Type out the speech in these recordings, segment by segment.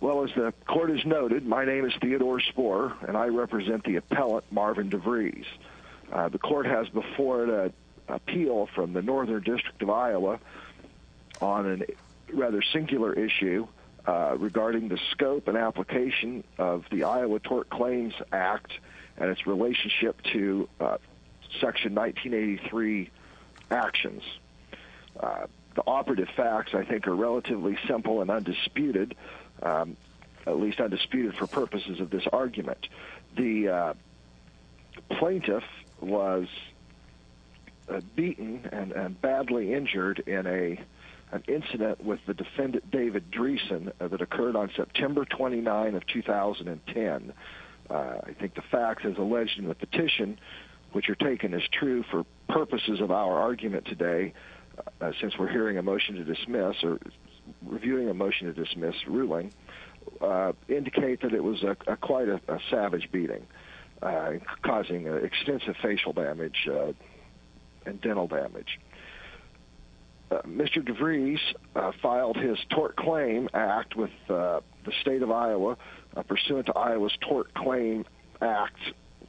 Well, as the court has noted, my name is Theodore Spohr, and I represent the appellate Marvin DeVries. The court has before it an appeal from the Northern District of Iowa on a rather singular issue regarding the scope and application of the Iowa Tort Claims Act and its relationship to Section 1983 actions. The operative facts, I think, are relatively simple and undisputed, at least undisputed for purposes of this argument. The plaintiff was beaten and badly injured in an incident with the defendant David Driesen that occurred on September 29, 2010. I think the facts as alleged in the petition, which are taken as true for purposes of our argument today, since we're hearing a motion to dismiss or reviewing a motion to dismiss ruling, indicate that it was quite a savage beating, causing extensive facial damage and dental damage. Mr. DeVries filed his Tort Claims Act with the state of Iowa, pursuant to Iowa's Tort Claims Act,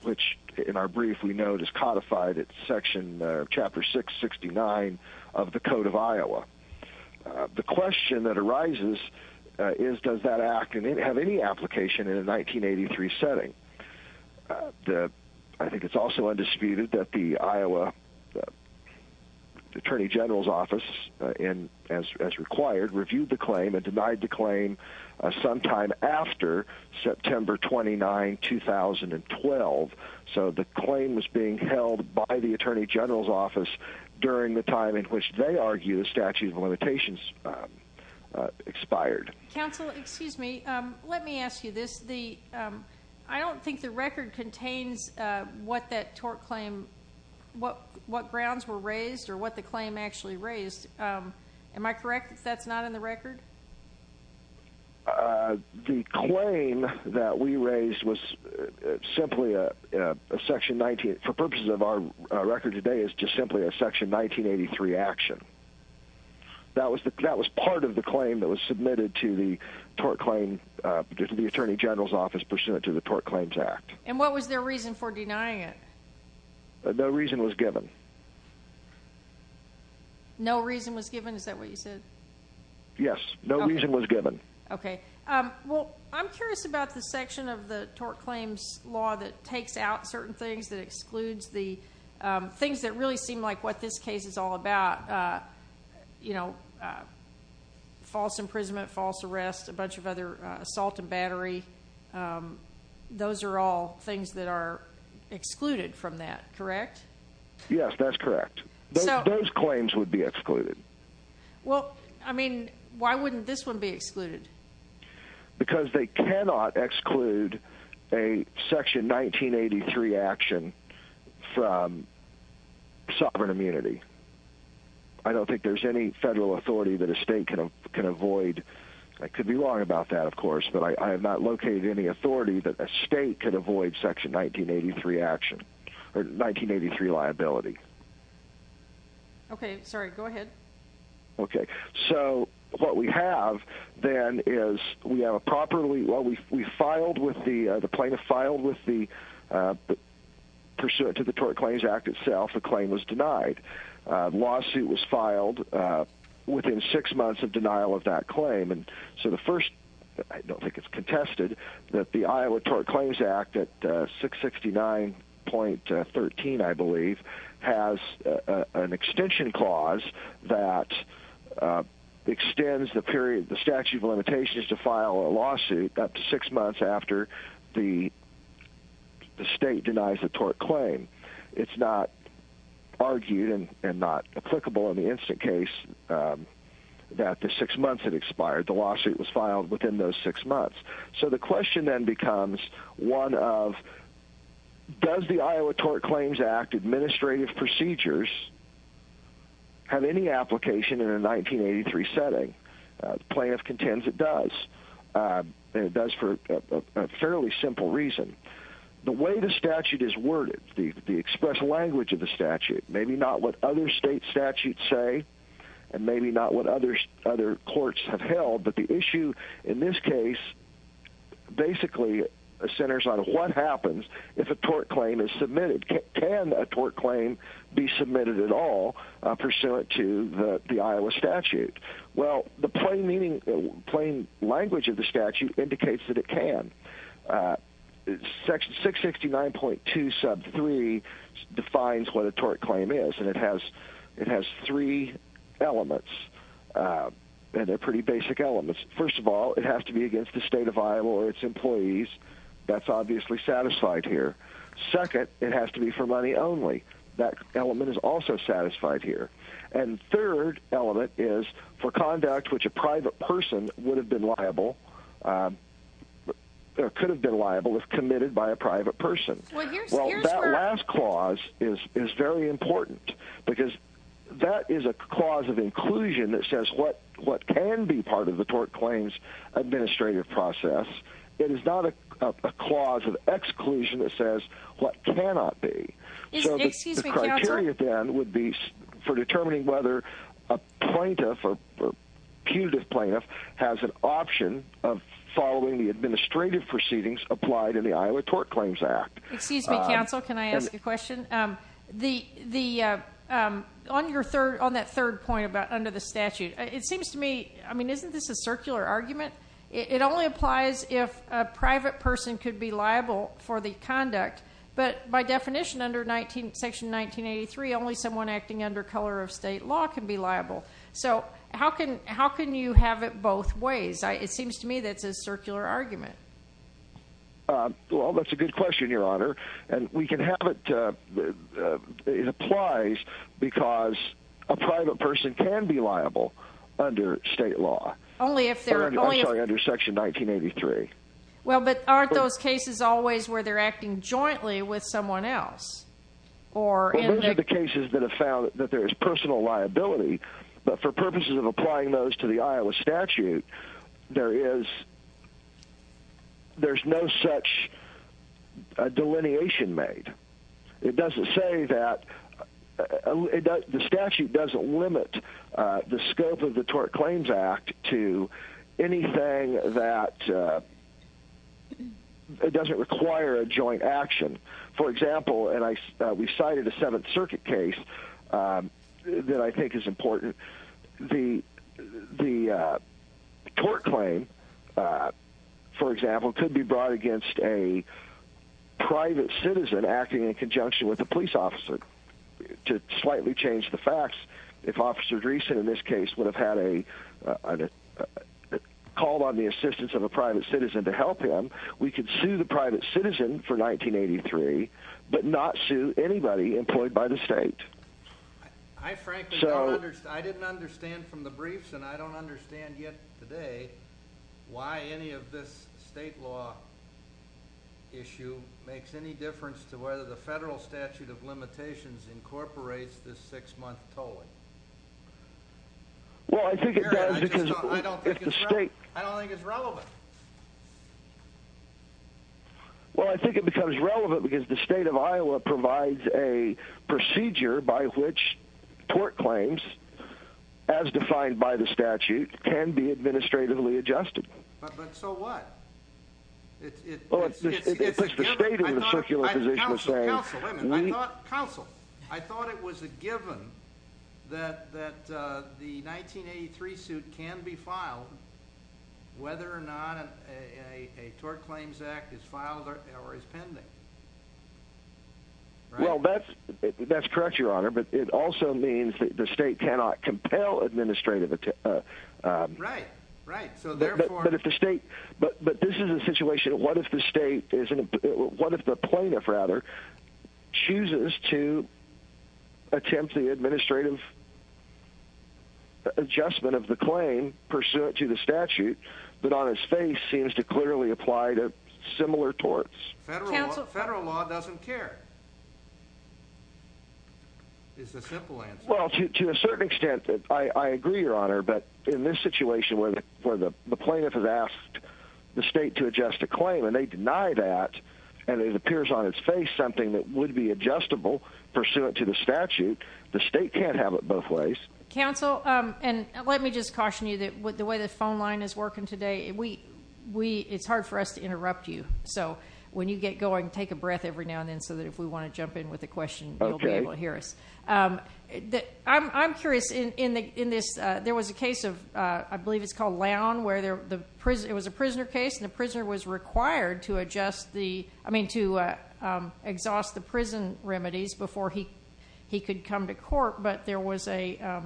which in our brief we note is codified in Chapter 669 of the Code of Iowa. The question that arises is, does that act have any application in a 1983 setting? I think it's also undisputed that the Iowa Attorney General's Office, as required, reviewed the claim and denied the claim sometime after September 29, 2012. So the claim was being held by the Attorney General's Office during the time in which they argue the statute of limitations expired. Counsel, excuse me, let me ask you this. I don't think the record contains what grounds were raised or what the claim actually raised. Am I correct that that's not in the record? The claim that we raised was simply a Section 19. For purposes of our record today, it's just simply a Section 1983 action. That was part of the claim that was submitted to the Tort Claims, to the Attorney General's Office pursuant to the Tort Claims Act. And what was their reason for denying it? No reason was given. No reason was given, is that what you said? Yes, no reason was given. Okay. Well, I'm curious about the section of the Tort Claims law that takes out certain things, that excludes the things that really seem like what this case is all about, you know, false imprisonment, false arrest, a bunch of other assault and battery. Those are all things that are excluded from that, correct? Yes, that's correct. Those claims would be excluded. Well, I mean, why wouldn't this one be excluded? Because they cannot exclude a Section 1983 action from sovereign immunity. I don't think there's any federal authority that a state can avoid. I could be wrong about that, of course, but I have not located any authority that a state could avoid Section 1983 action, or 1983 liability. Okay, sorry, go ahead. Okay, so what we have then is we have a properly, well, we filed with the, the plaintiff filed with the, pursuant to the Tort Claims Act itself, the claim was denied. The lawsuit was filed within six months of denial of that claim. So the first, I don't think it's contested, that the Iowa Tort Claims Act at 669.13, I believe, has an extension clause that extends the statute of limitations to file a lawsuit up to six months after the state denies the tort claim. It's not argued and not applicable in the instant case that the six months it expired. The lawsuit was filed within those six months. So the question then becomes one of, does the Iowa Tort Claims Act administrative procedures have any application in a 1983 setting? The plaintiff contends it does, and it does for a fairly simple reason. The way the statute is worded, the express language of the statute, maybe not what other state statutes say, and maybe not what other courts have held, but the issue in this case basically centers on what happens if a tort claim is submitted. Can a tort claim be submitted at all pursuant to the Iowa statute? Well, the plain language of the statute indicates that it can. 669.2 sub 3 defines what a tort claim is, and it has three elements, and they're pretty basic elements. First of all, it has to be against the state of Iowa or its employees. That's obviously satisfied here. Second, it has to be for money only. That element is also satisfied here. And third element is for conduct which a private person would have been liable or could have been liable if committed by a private person. Well, that last clause is very important because that is a clause of inclusion that says what can be part of the tort claims administrative process. It is not a clause of exclusion that says what cannot be. Excuse me, counsel. So the criteria then would be for determining whether a plaintiff or punitive plaintiff has an option of following the administrative proceedings applied in the Iowa Tort Claims Act. Excuse me, counsel. Can I ask a question? On that third point about under the statute, it seems to me, I mean, isn't this a circular argument? It only applies if a private person could be liable for the conduct, but by definition under Section 1983, only someone acting under color of state law can be liable. So how can you have it both ways? It seems to me that it's a circular argument. Well, that's a good question, Your Honor. And we can have it, it applies because a private person can be liable under state law. Only if they're going under Section 1983. Well, but aren't those cases always where they're acting jointly with someone else? Well, those are the cases that have found that there is personal liability, but for purposes of applying those to the Iowa statute, there is no such delineation made. It doesn't say that the statute doesn't limit the scope of the Tort Claims Act to anything that doesn't require a joint action. For example, and we cited a Seventh Circuit case that I think is important. The tort claim, for example, could be brought against a private citizen acting in conjunction with a police officer. To slightly change the facts, if Officer Dreesen in this case would have had a call on the assistance of a private citizen to help him, we could sue the private citizen for 1983, but not sue anybody employed by the state. I frankly don't understand, I didn't understand from the briefs and I don't understand yet today why any of this state law issue makes any difference to whether the federal statute of limitations incorporates this six-month tolling. Well, I think it does because if the state... I don't think it's relevant. Well, I think it becomes relevant because the state of Iowa provides a procedure by which tort claims, as defined by the statute, can be administratively adjusted. But so what? It puts the state in a circular position to say... Counsel, counsel, wait a minute, I thought... Counsel, I thought it was a given that the 1983 suit can be filed whether or not a tort claims act is filed or is pending. Well, that's correct, Your Honor, but it also means that the state cannot compel administrative... Right, right, so therefore... But if the state, but this is a situation, what if the state, what if the plaintiff, rather, chooses to attempt the administrative adjustment of the claim pursuant to the statute, but on its face seems to clearly apply to similar torts? Federal law doesn't care, is the simple answer. Well, to a certain extent, I agree, Your Honor, but in this situation where the plaintiff has asked the state to adjust a claim and they deny that, and it appears on its face something that would be adjustable pursuant to the statute, the state can't have it both ways. Counsel, and let me just caution you that the way the phone line is working today, it's hard for us to interrupt you, so when you get going, take a breath every now and then so that if we want to jump in with a question, you'll be able to hear us. I'm curious, in this, there was a case of, I believe it's called Lown, where it was a prisoner case, and the prisoner was required to adjust the, I mean, to exhaust the prison remedies before he could come to court, but there was a,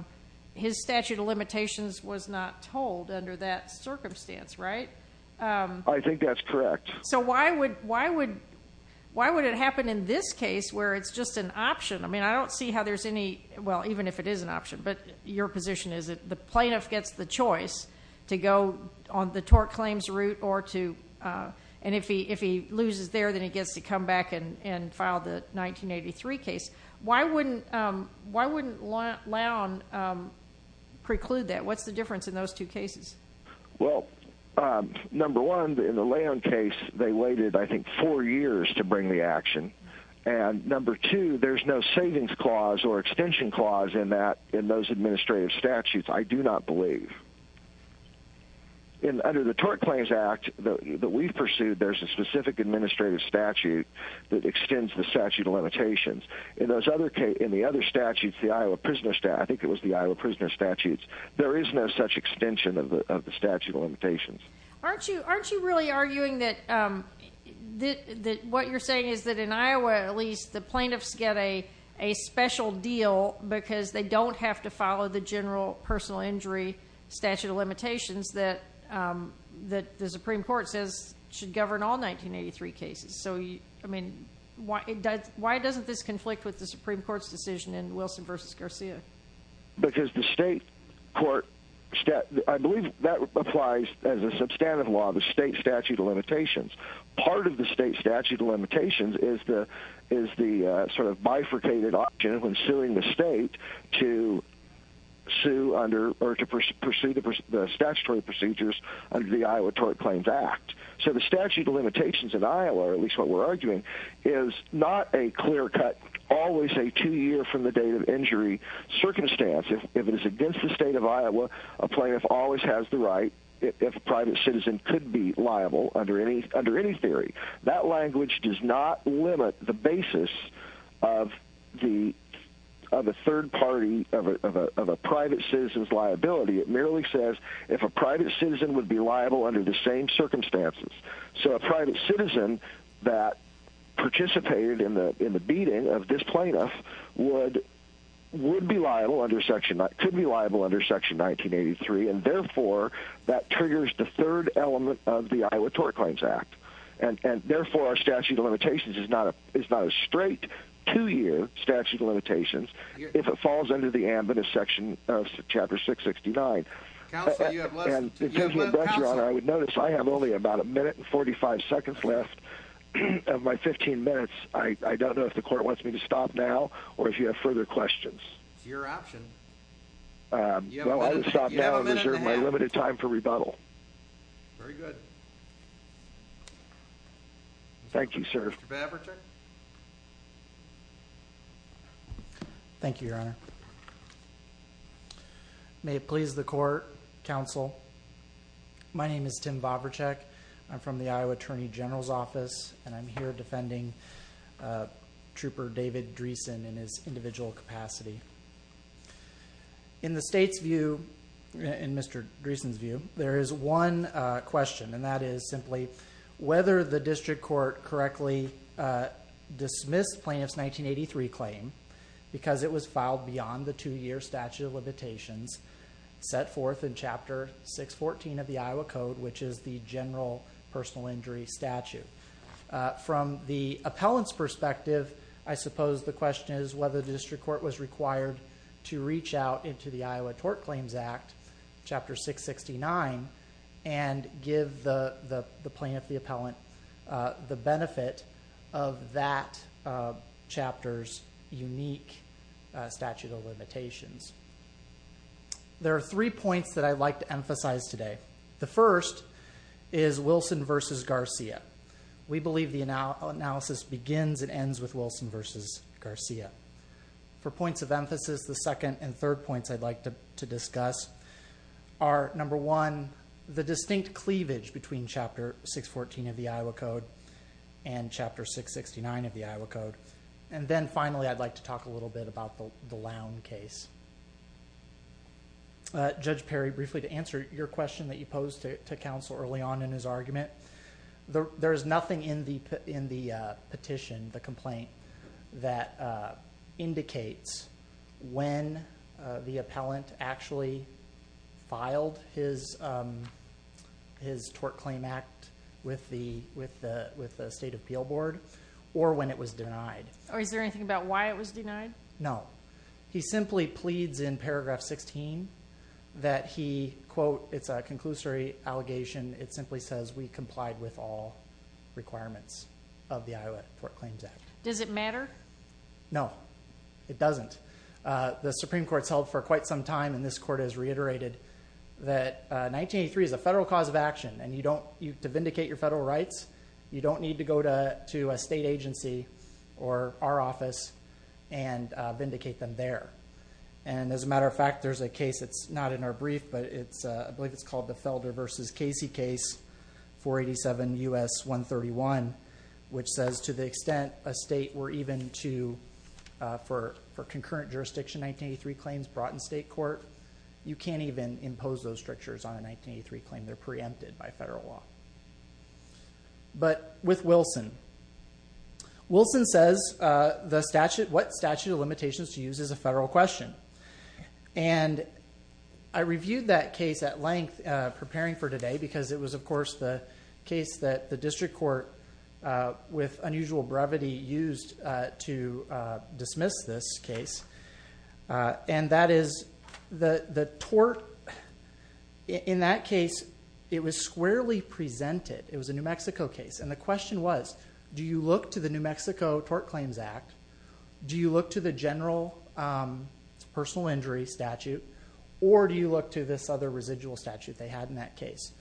his statute of limitations was not told under that circumstance, right? I think that's correct. So why would it happen in this case where it's just an option? I mean, I don't see how there's any, well, even if it is an option, but your position is that the plaintiff gets the choice to go on the tort claims route or to, and if he loses there, then he gets to come back and file the 1983 case. Why wouldn't Lown preclude that? What's the difference in those two cases? Well, number one, in the Lown case, they waited, I think, four years to bring the action, and number two, there's no savings clause or extension clause in that, in those administrative statutes, I do not believe. Under the Tort Claims Act that we've pursued, there's a specific administrative statute that extends the statute of limitations. In those other, in the other statutes, the Iowa Prisoner, I think it was the Iowa Prisoner statutes, there is no such extension of the statute of limitations. Aren't you really arguing that what you're saying is that in Iowa, at least, the plaintiffs get a special deal because they don't have to follow the general personal injury statute of limitations that the Supreme Court says should govern all 1983 cases? So, I mean, why doesn't this conflict with the Supreme Court's decision in Wilson v. Garcia? Because the state court, I believe that applies as a substantive law, the state statute of limitations. Part of the state statute of limitations is the sort of bifurcated option when suing the state to sue under, or to pursue the statutory procedures under the Iowa Tort Claims Act. So the statute of limitations in Iowa, or at least what we're arguing, is not a clear-cut, always a two-year-from-the-date-of-injury circumstance. If it is against the state of Iowa, a plaintiff always has the right, if a private citizen, could be liable under any theory. That language does not limit the basis of the third party, of a private citizen's liability. It merely says if a private citizen would be liable under the same circumstances. So a private citizen that participated in the beating of this plaintiff would be liable under section, could be liable under section 1983, and therefore that triggers the third element of the Iowa Tort Claims Act. And therefore our statute of limitations is not a straight two-year statute of limitations if it falls under the ambitious section of chapter 669. Counsel, you have less than two minutes. Counsel, I would notice I have only about a minute and 45 seconds left of my 15 minutes. I don't know if the court wants me to stop now or if you have further questions. It's your option. Well, I will stop now and reserve my limited time for rebuttal. Very good. Mr. Babich. Thank you, Your Honor. May it please the court, counsel. My name is Tim Babachek. I'm from the Iowa Attorney General's Office, and I'm here defending Trooper David Dreesen in his individual capacity. In the state's view, in Mr. Dreesen's view, there is one question, and that is simply whether the district court correctly dismissed plaintiff's 1983 claim because it was filed beyond the two-year statute of limitations set forth in Chapter 614 of the Iowa Code, which is the general personal injury statute. From the appellant's perspective, I suppose the question is whether the district court was required to reach out into the Iowa Tort Claims Act, Chapter 669, and give the plaintiff, the appellant, the benefit of that chapter's unique statute of limitations. There are three points that I'd like to emphasize today. The first is Wilson v. Garcia. We believe the analysis begins and ends with Wilson v. Garcia. For points of emphasis, the second and third points I'd like to discuss are, number one, the distinct cleavage between Chapter 614 of the Iowa Code and Chapter 669 of the Iowa Code. Then, finally, I'd like to talk a little bit about the Lown case. Judge Perry, briefly to answer your question that you posed to counsel early on in his argument, that indicates when the appellant actually filed his Tort Claim Act with the State Appeal Board or when it was denied. Or is there anything about why it was denied? No. He simply pleads in paragraph 16 that he, quote, it's a conclusory allegation, it simply says we complied with all requirements of the Iowa Tort Claims Act. Does it matter? No, it doesn't. The Supreme Court has held for quite some time, and this Court has reiterated, that 1983 is a federal cause of action, and to vindicate your federal rights, you don't need to go to a state agency or our office and vindicate them there. As a matter of fact, there's a case that's not in our brief, but I believe it's called the Felder v. Casey case, 487 U.S. 131, which says to the extent a state were even to, for concurrent jurisdiction 1983 claims brought in state court, you can't even impose those strictures on a 1983 claim. They're preempted by federal law. But with Wilson, Wilson says what statute of limitations to use is a federal question. And I reviewed that case at length preparing for today because it was, of course, the case that the district court, with unusual brevity, used to dismiss this case. And that is the tort, in that case, it was squarely presented. It was a New Mexico case. And the question was, do you look to the New Mexico Tort Claims Act, do you look to the general personal injury statute, or do you look to this other residual statute they had in that case?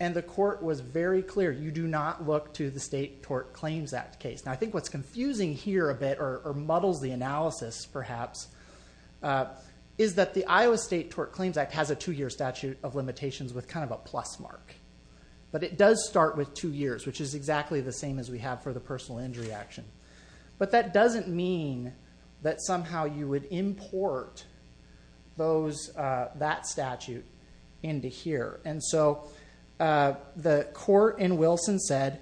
And the court was very clear, you do not look to the State Tort Claims Act case. Now, I think what's confusing here a bit, or muddles the analysis perhaps, is that the Iowa State Tort Claims Act has a two-year statute of limitations with kind of a plus mark. But it does start with two years, which is exactly the same as we have for the personal injury action. But that doesn't mean that somehow you would import that statute into here. And so the court in Wilson said,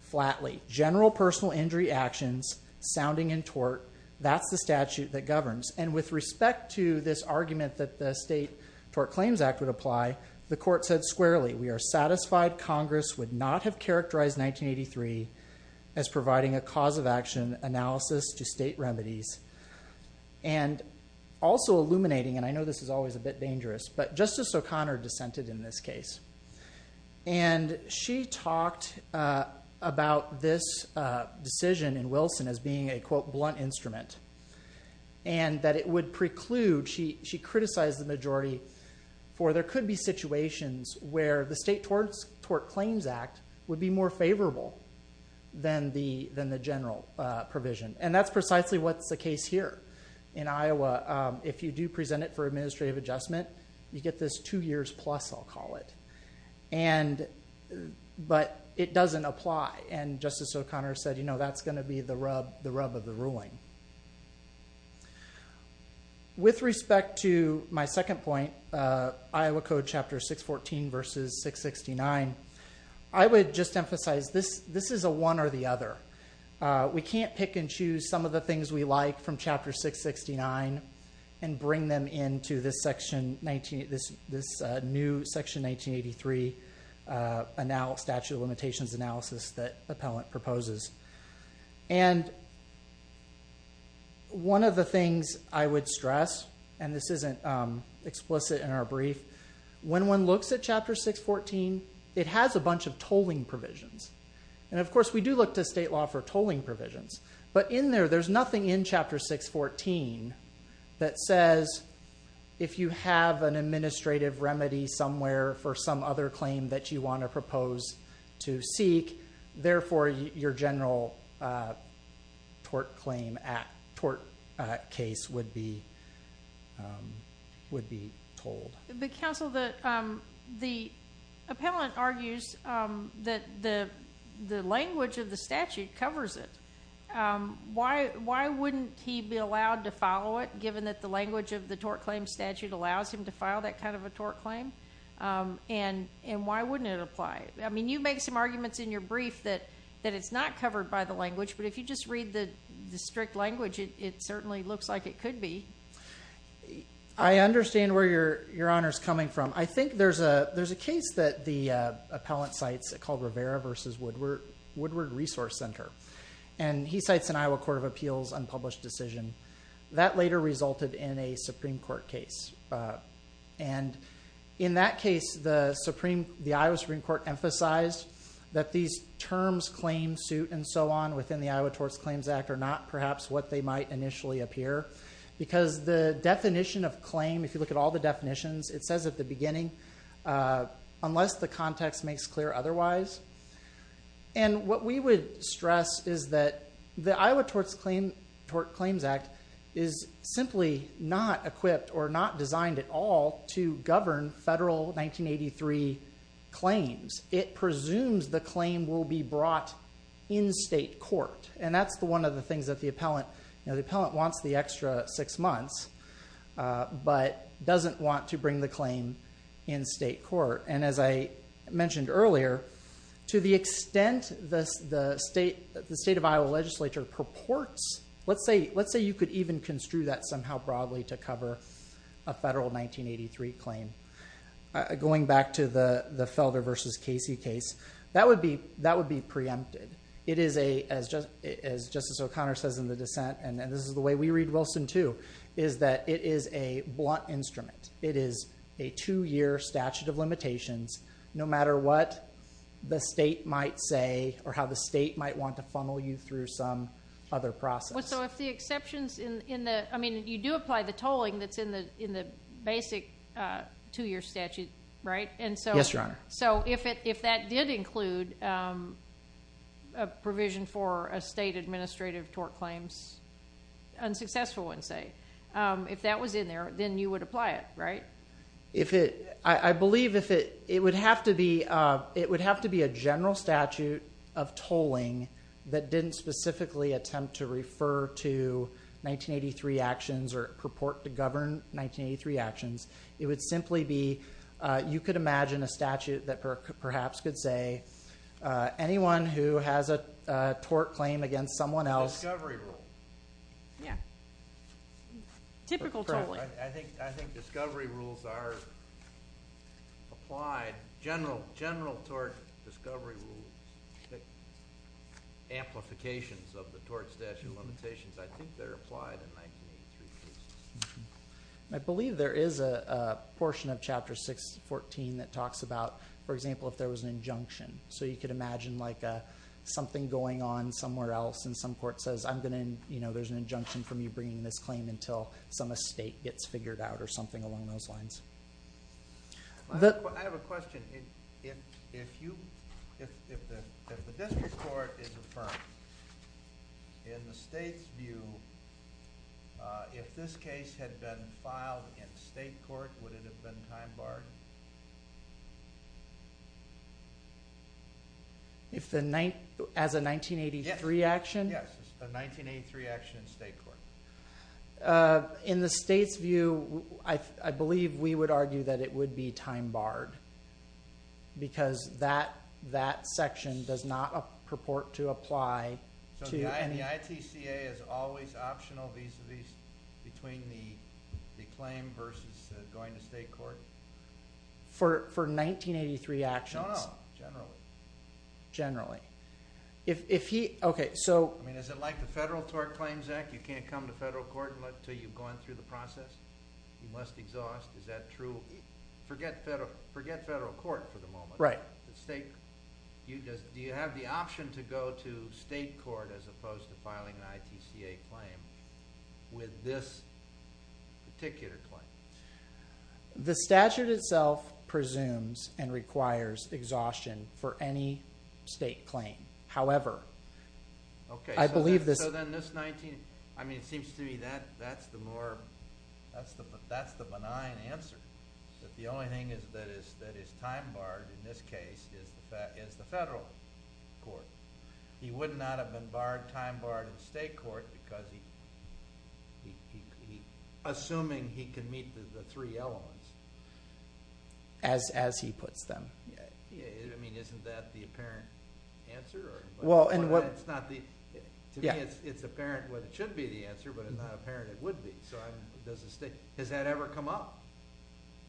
flatly, general personal injury actions sounding in tort, that's the statute that governs. And with respect to this argument that the State Tort Claims Act would apply, the court said squarely, we are satisfied Congress would not have characterized 1983 as providing a cause of action analysis to state remedies. And also illuminating, and I know this is always a bit dangerous, but Justice O'Connor dissented in this case. And she talked about this decision in Wilson as being a, quote, blunt instrument. And that it would preclude, she criticized the majority for there could be situations where the State Tort Claims Act would be more favorable than the general provision. And that's precisely what's the case here in Iowa. If you do present it for administrative adjustment, you get this two years plus, I'll call it. But it doesn't apply. And Justice O'Connor said, you know, that's going to be the rub of the ruling. With respect to my second point, Iowa Code Chapter 614 versus 669, I would just emphasize this is a one or the other. We can't pick and choose some of the things we like from Chapter 669 and bring them into this new Section 1983 Statute of Limitations analysis that Appellant proposes. And one of the things I would stress, and this isn't explicit in our brief, when one looks at Chapter 614, it has a bunch of tolling provisions. And, of course, we do look to state law for tolling provisions. But in there, there's nothing in Chapter 614 that says if you have an administrative remedy somewhere for some other claim that you want to propose to seek, therefore your general Tort Claim Act, Tort case would be told. But, Counsel, the appellant argues that the language of the statute covers it. Why wouldn't he be allowed to follow it, given that the language of the tort claim statute allows him to file that kind of a tort claim? And why wouldn't it apply? I mean, you make some arguments in your brief that it's not covered by the language, but if you just read the strict language, it certainly looks like it could be. I understand where Your Honor is coming from. I think there's a case that the appellant cites called Rivera v. Woodward Resource Center. And he cites an Iowa Court of Appeals unpublished decision. That later resulted in a Supreme Court case. And in that case, the Iowa Supreme Court emphasized that these terms, claim, suit, and so on, within the Iowa Tort Claims Act are not perhaps what they might initially appear because the definition of claim, if you look at all the definitions, it says at the beginning, unless the context makes clear otherwise. And what we would stress is that the Iowa Tort Claims Act is simply not equipped or not designed at all to govern federal 1983 claims. It presumes the claim will be brought in state court. And that's one of the things that the appellant wants the extra six months, but doesn't want to bring the claim in state court. And as I mentioned earlier, to the extent the state of Iowa legislature purports, let's say you could even construe that somehow broadly to cover a federal 1983 claim. Going back to the Felder v. Casey case, that would be preempted. It is a, as Justice O'Connor says in the dissent, and this is the way we read Wilson too, is that it is a blunt instrument. It is a two-year statute of limitations, no matter what the state might say or how the state might want to funnel you through some other process. So if the exceptions in the, I mean, you do apply the tolling that's in the basic two-year statute, right? Yes, Your Honor. So if that did include a provision for a state administrative tort claims, unsuccessful one, say, if that was in there, then you would apply it, right? I believe it would have to be a general statute of tolling that didn't specifically attempt to refer to 1983 actions or purport to govern 1983 actions. It would simply be you could imagine a statute that perhaps could say anyone who has a tort claim against someone else. A discovery rule. Yeah. Typical tolling. I think discovery rules are applied. General tort discovery rules, amplifications of the tort statute limitations, I think they're applied in 1983 cases. I believe there is a portion of Chapter 614 that talks about, for example, if there was an injunction. So you could imagine like something going on somewhere else and some court says, I'm going to, you know, there's an injunction for me bringing this claim until some estate gets figured out or something along those lines. I have a question. If the district court is affirmed, in the state's view, if this case had been filed in state court, would it have been time barred? As a 1983 action? Yes, a 1983 action in state court. In the state's view, I believe we would argue that it would be time barred. Because that section does not purport to apply. So the ITCA is always optional between the claim versus going to state court? For 1983 actions. No, no, generally. Generally. Is it like the Federal Tort Claims Act? You can't come to federal court until you've gone through the process? You must exhaust, is that true? Forget federal court for the moment. Right. Do you have the option to go to state court as opposed to filing an ITCA claim with this particular claim? The statute itself presumes and requires exhaustion for any state claim. However, I believe this... Okay, so then this 19... I mean, it seems to me that's the more... that's the benign answer. That the only thing that is time barred in this case is the federal court. He would not have been time barred in state court because he... the three elements. As he puts them. Yeah, I mean, isn't that the apparent answer? Well, and what... To me, it's apparent what should be the answer, but it's not apparent it would be. So I'm... does the state... has that ever come up?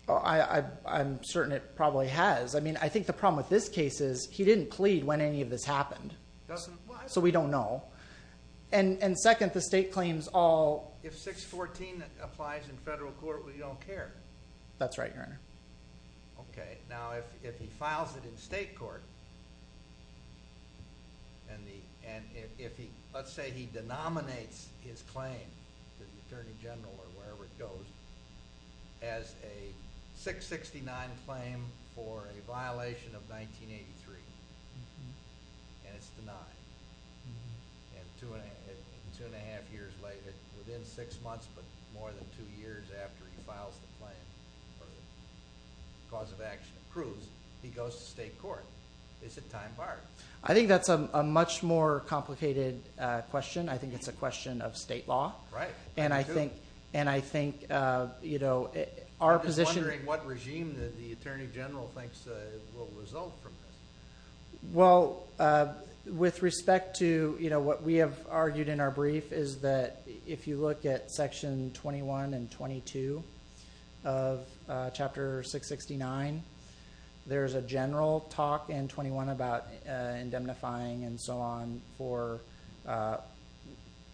I'm certain it probably has. I mean, I think the problem with this case is he didn't plead when any of this happened. Doesn't... So we don't know. And second, the state claims all... If 614 applies in federal court, we don't care. That's right, Your Honor. Okay, now if he files it in state court... and if he... let's say he denominates his claim to the Attorney General or wherever it goes... as a 669 claim for a violation of 1983. And it's denied. And two and a half years later, within six months, but more than two years after he files the claim, or the cause of action approves, he goes to state court. Is it time barred? I think that's a much more complicated question. I think it's a question of state law. Right. And I think, you know, our position... I'm just wondering what regime the Attorney General thinks will result from this. Well, with respect to, you know, what we have argued in our brief, is that if you look at Section 21 and 22 of Chapter 669, there's a general talk in 21 about indemnifying and so on for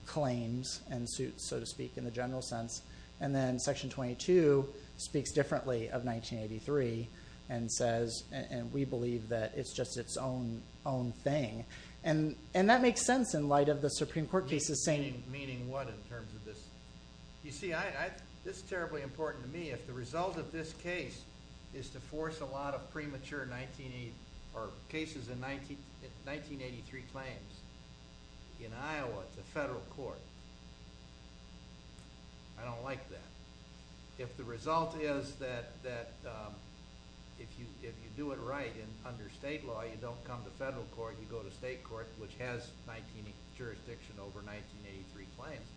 claims and suits, so to speak, in the general sense. And then Section 22 speaks differently of 1983 and says, and we believe that it's just its own thing. And that makes sense in light of the Supreme Court cases saying... Meaning what in terms of this? You see, this is terribly important to me. If the result of this case is to force a lot of premature 1983 claims in Iowa to federal court, I don't like that. If the result is that if you do it right under state law, you don't come to federal court, you go to state court, which has jurisdiction over 1983 claims,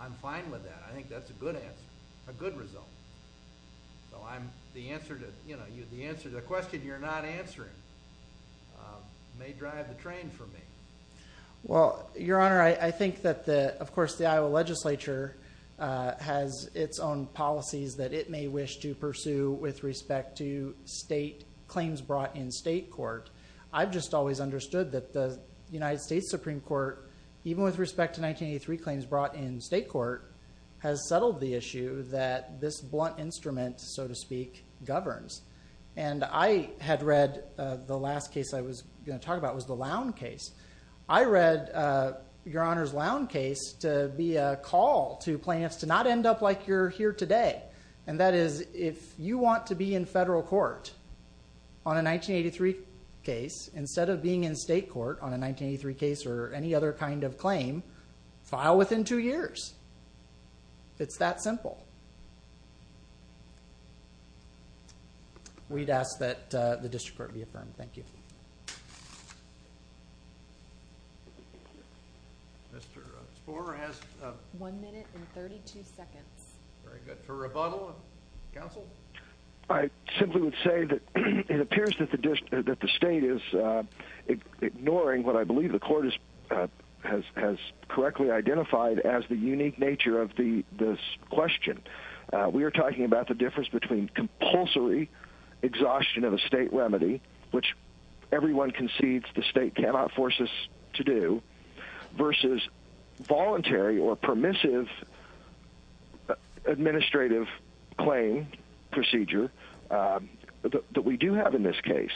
I'm fine with that. I think that's a good answer, a good result. So the answer to the question you're not answering may drive the train for me. Well, Your Honor, I think that, of course, the Iowa legislature has its own policies that it may wish to pursue with respect to state claims brought in state court. I've just always understood that the United States Supreme Court, even with respect to 1983 claims brought in state court, has settled the issue that this blunt instrument, so to speak, governs. And I had read the last case I was going to talk about was the Lown case. I read Your Honor's Lown case to be a call to plaintiffs to not end up like you're here today. And that is if you want to be in federal court on a 1983 case, instead of being in state court on a 1983 case or any other kind of claim, file within two years. It's that simple. We'd ask that the district court be affirmed. Thank you. Mr. Spore has one minute and 32 seconds. Very good. For rebuttal, counsel? I simply would say that it appears that the state is ignoring what I believe the court has correctly identified as the unique nature of this question. We are talking about the difference between compulsory exhaustion of a state remedy, which everyone concedes the state cannot force us to do, versus voluntary or permissive administrative claim procedure that we do have in this case.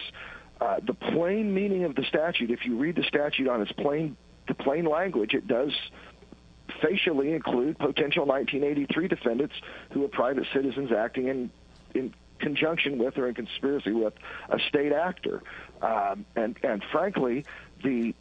The plain meaning of the statute, if you read the statute on its plain language, it does facially include potential 1983 defendants who are private citizens acting in conjunction with or in conspiracy with a state actor. And, frankly, the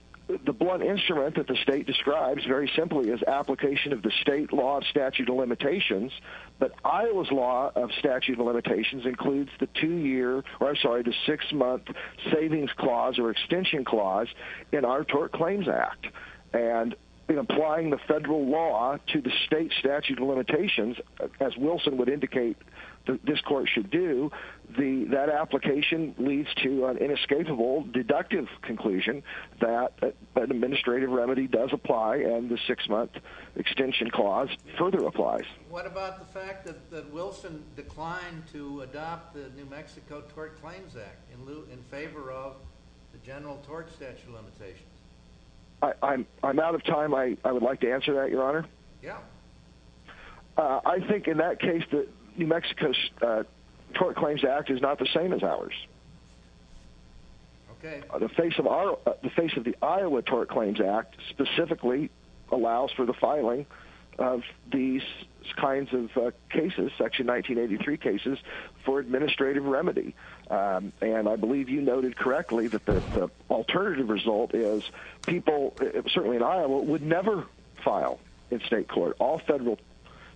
blunt instrument that the state describes very simply is application of the state law of statute of limitations, but Iowa's law of statute of limitations includes the two-year or, I'm sorry, the six-month savings clause or extension clause in our Tort Claims Act. And in applying the federal law to the state statute of limitations, as Wilson would indicate this court should do, that application leads to an inescapable deductive conclusion that an administrative remedy does apply and the six-month extension clause further applies. What about the fact that Wilson declined to adopt the New Mexico Tort Claims Act I'm out of time. I would like to answer that, Your Honor. Yeah. I think in that case the New Mexico Tort Claims Act is not the same as ours. Okay. The face of the Iowa Tort Claims Act specifically allows for the filing of these kinds of cases, section 1983 cases, for administrative remedy. And I believe you noted correctly that the alternative result is people, certainly in Iowa, would never file in state court. All federal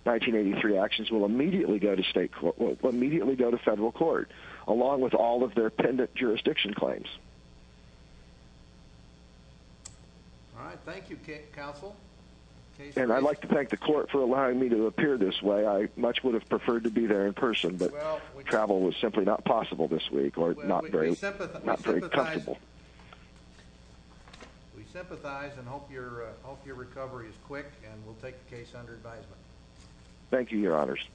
1983 actions will immediately go to state court, will immediately go to federal court, along with all of their pendent jurisdiction claims. All right. Thank you, Counsel. And I'd like to thank the court for allowing me to appear this way. I much would have preferred to be there in person, but travel was simply not possible this week or not very comfortable. We sympathize and hope your recovery is quick and we'll take the case under advisement. Thank you, Your Honors.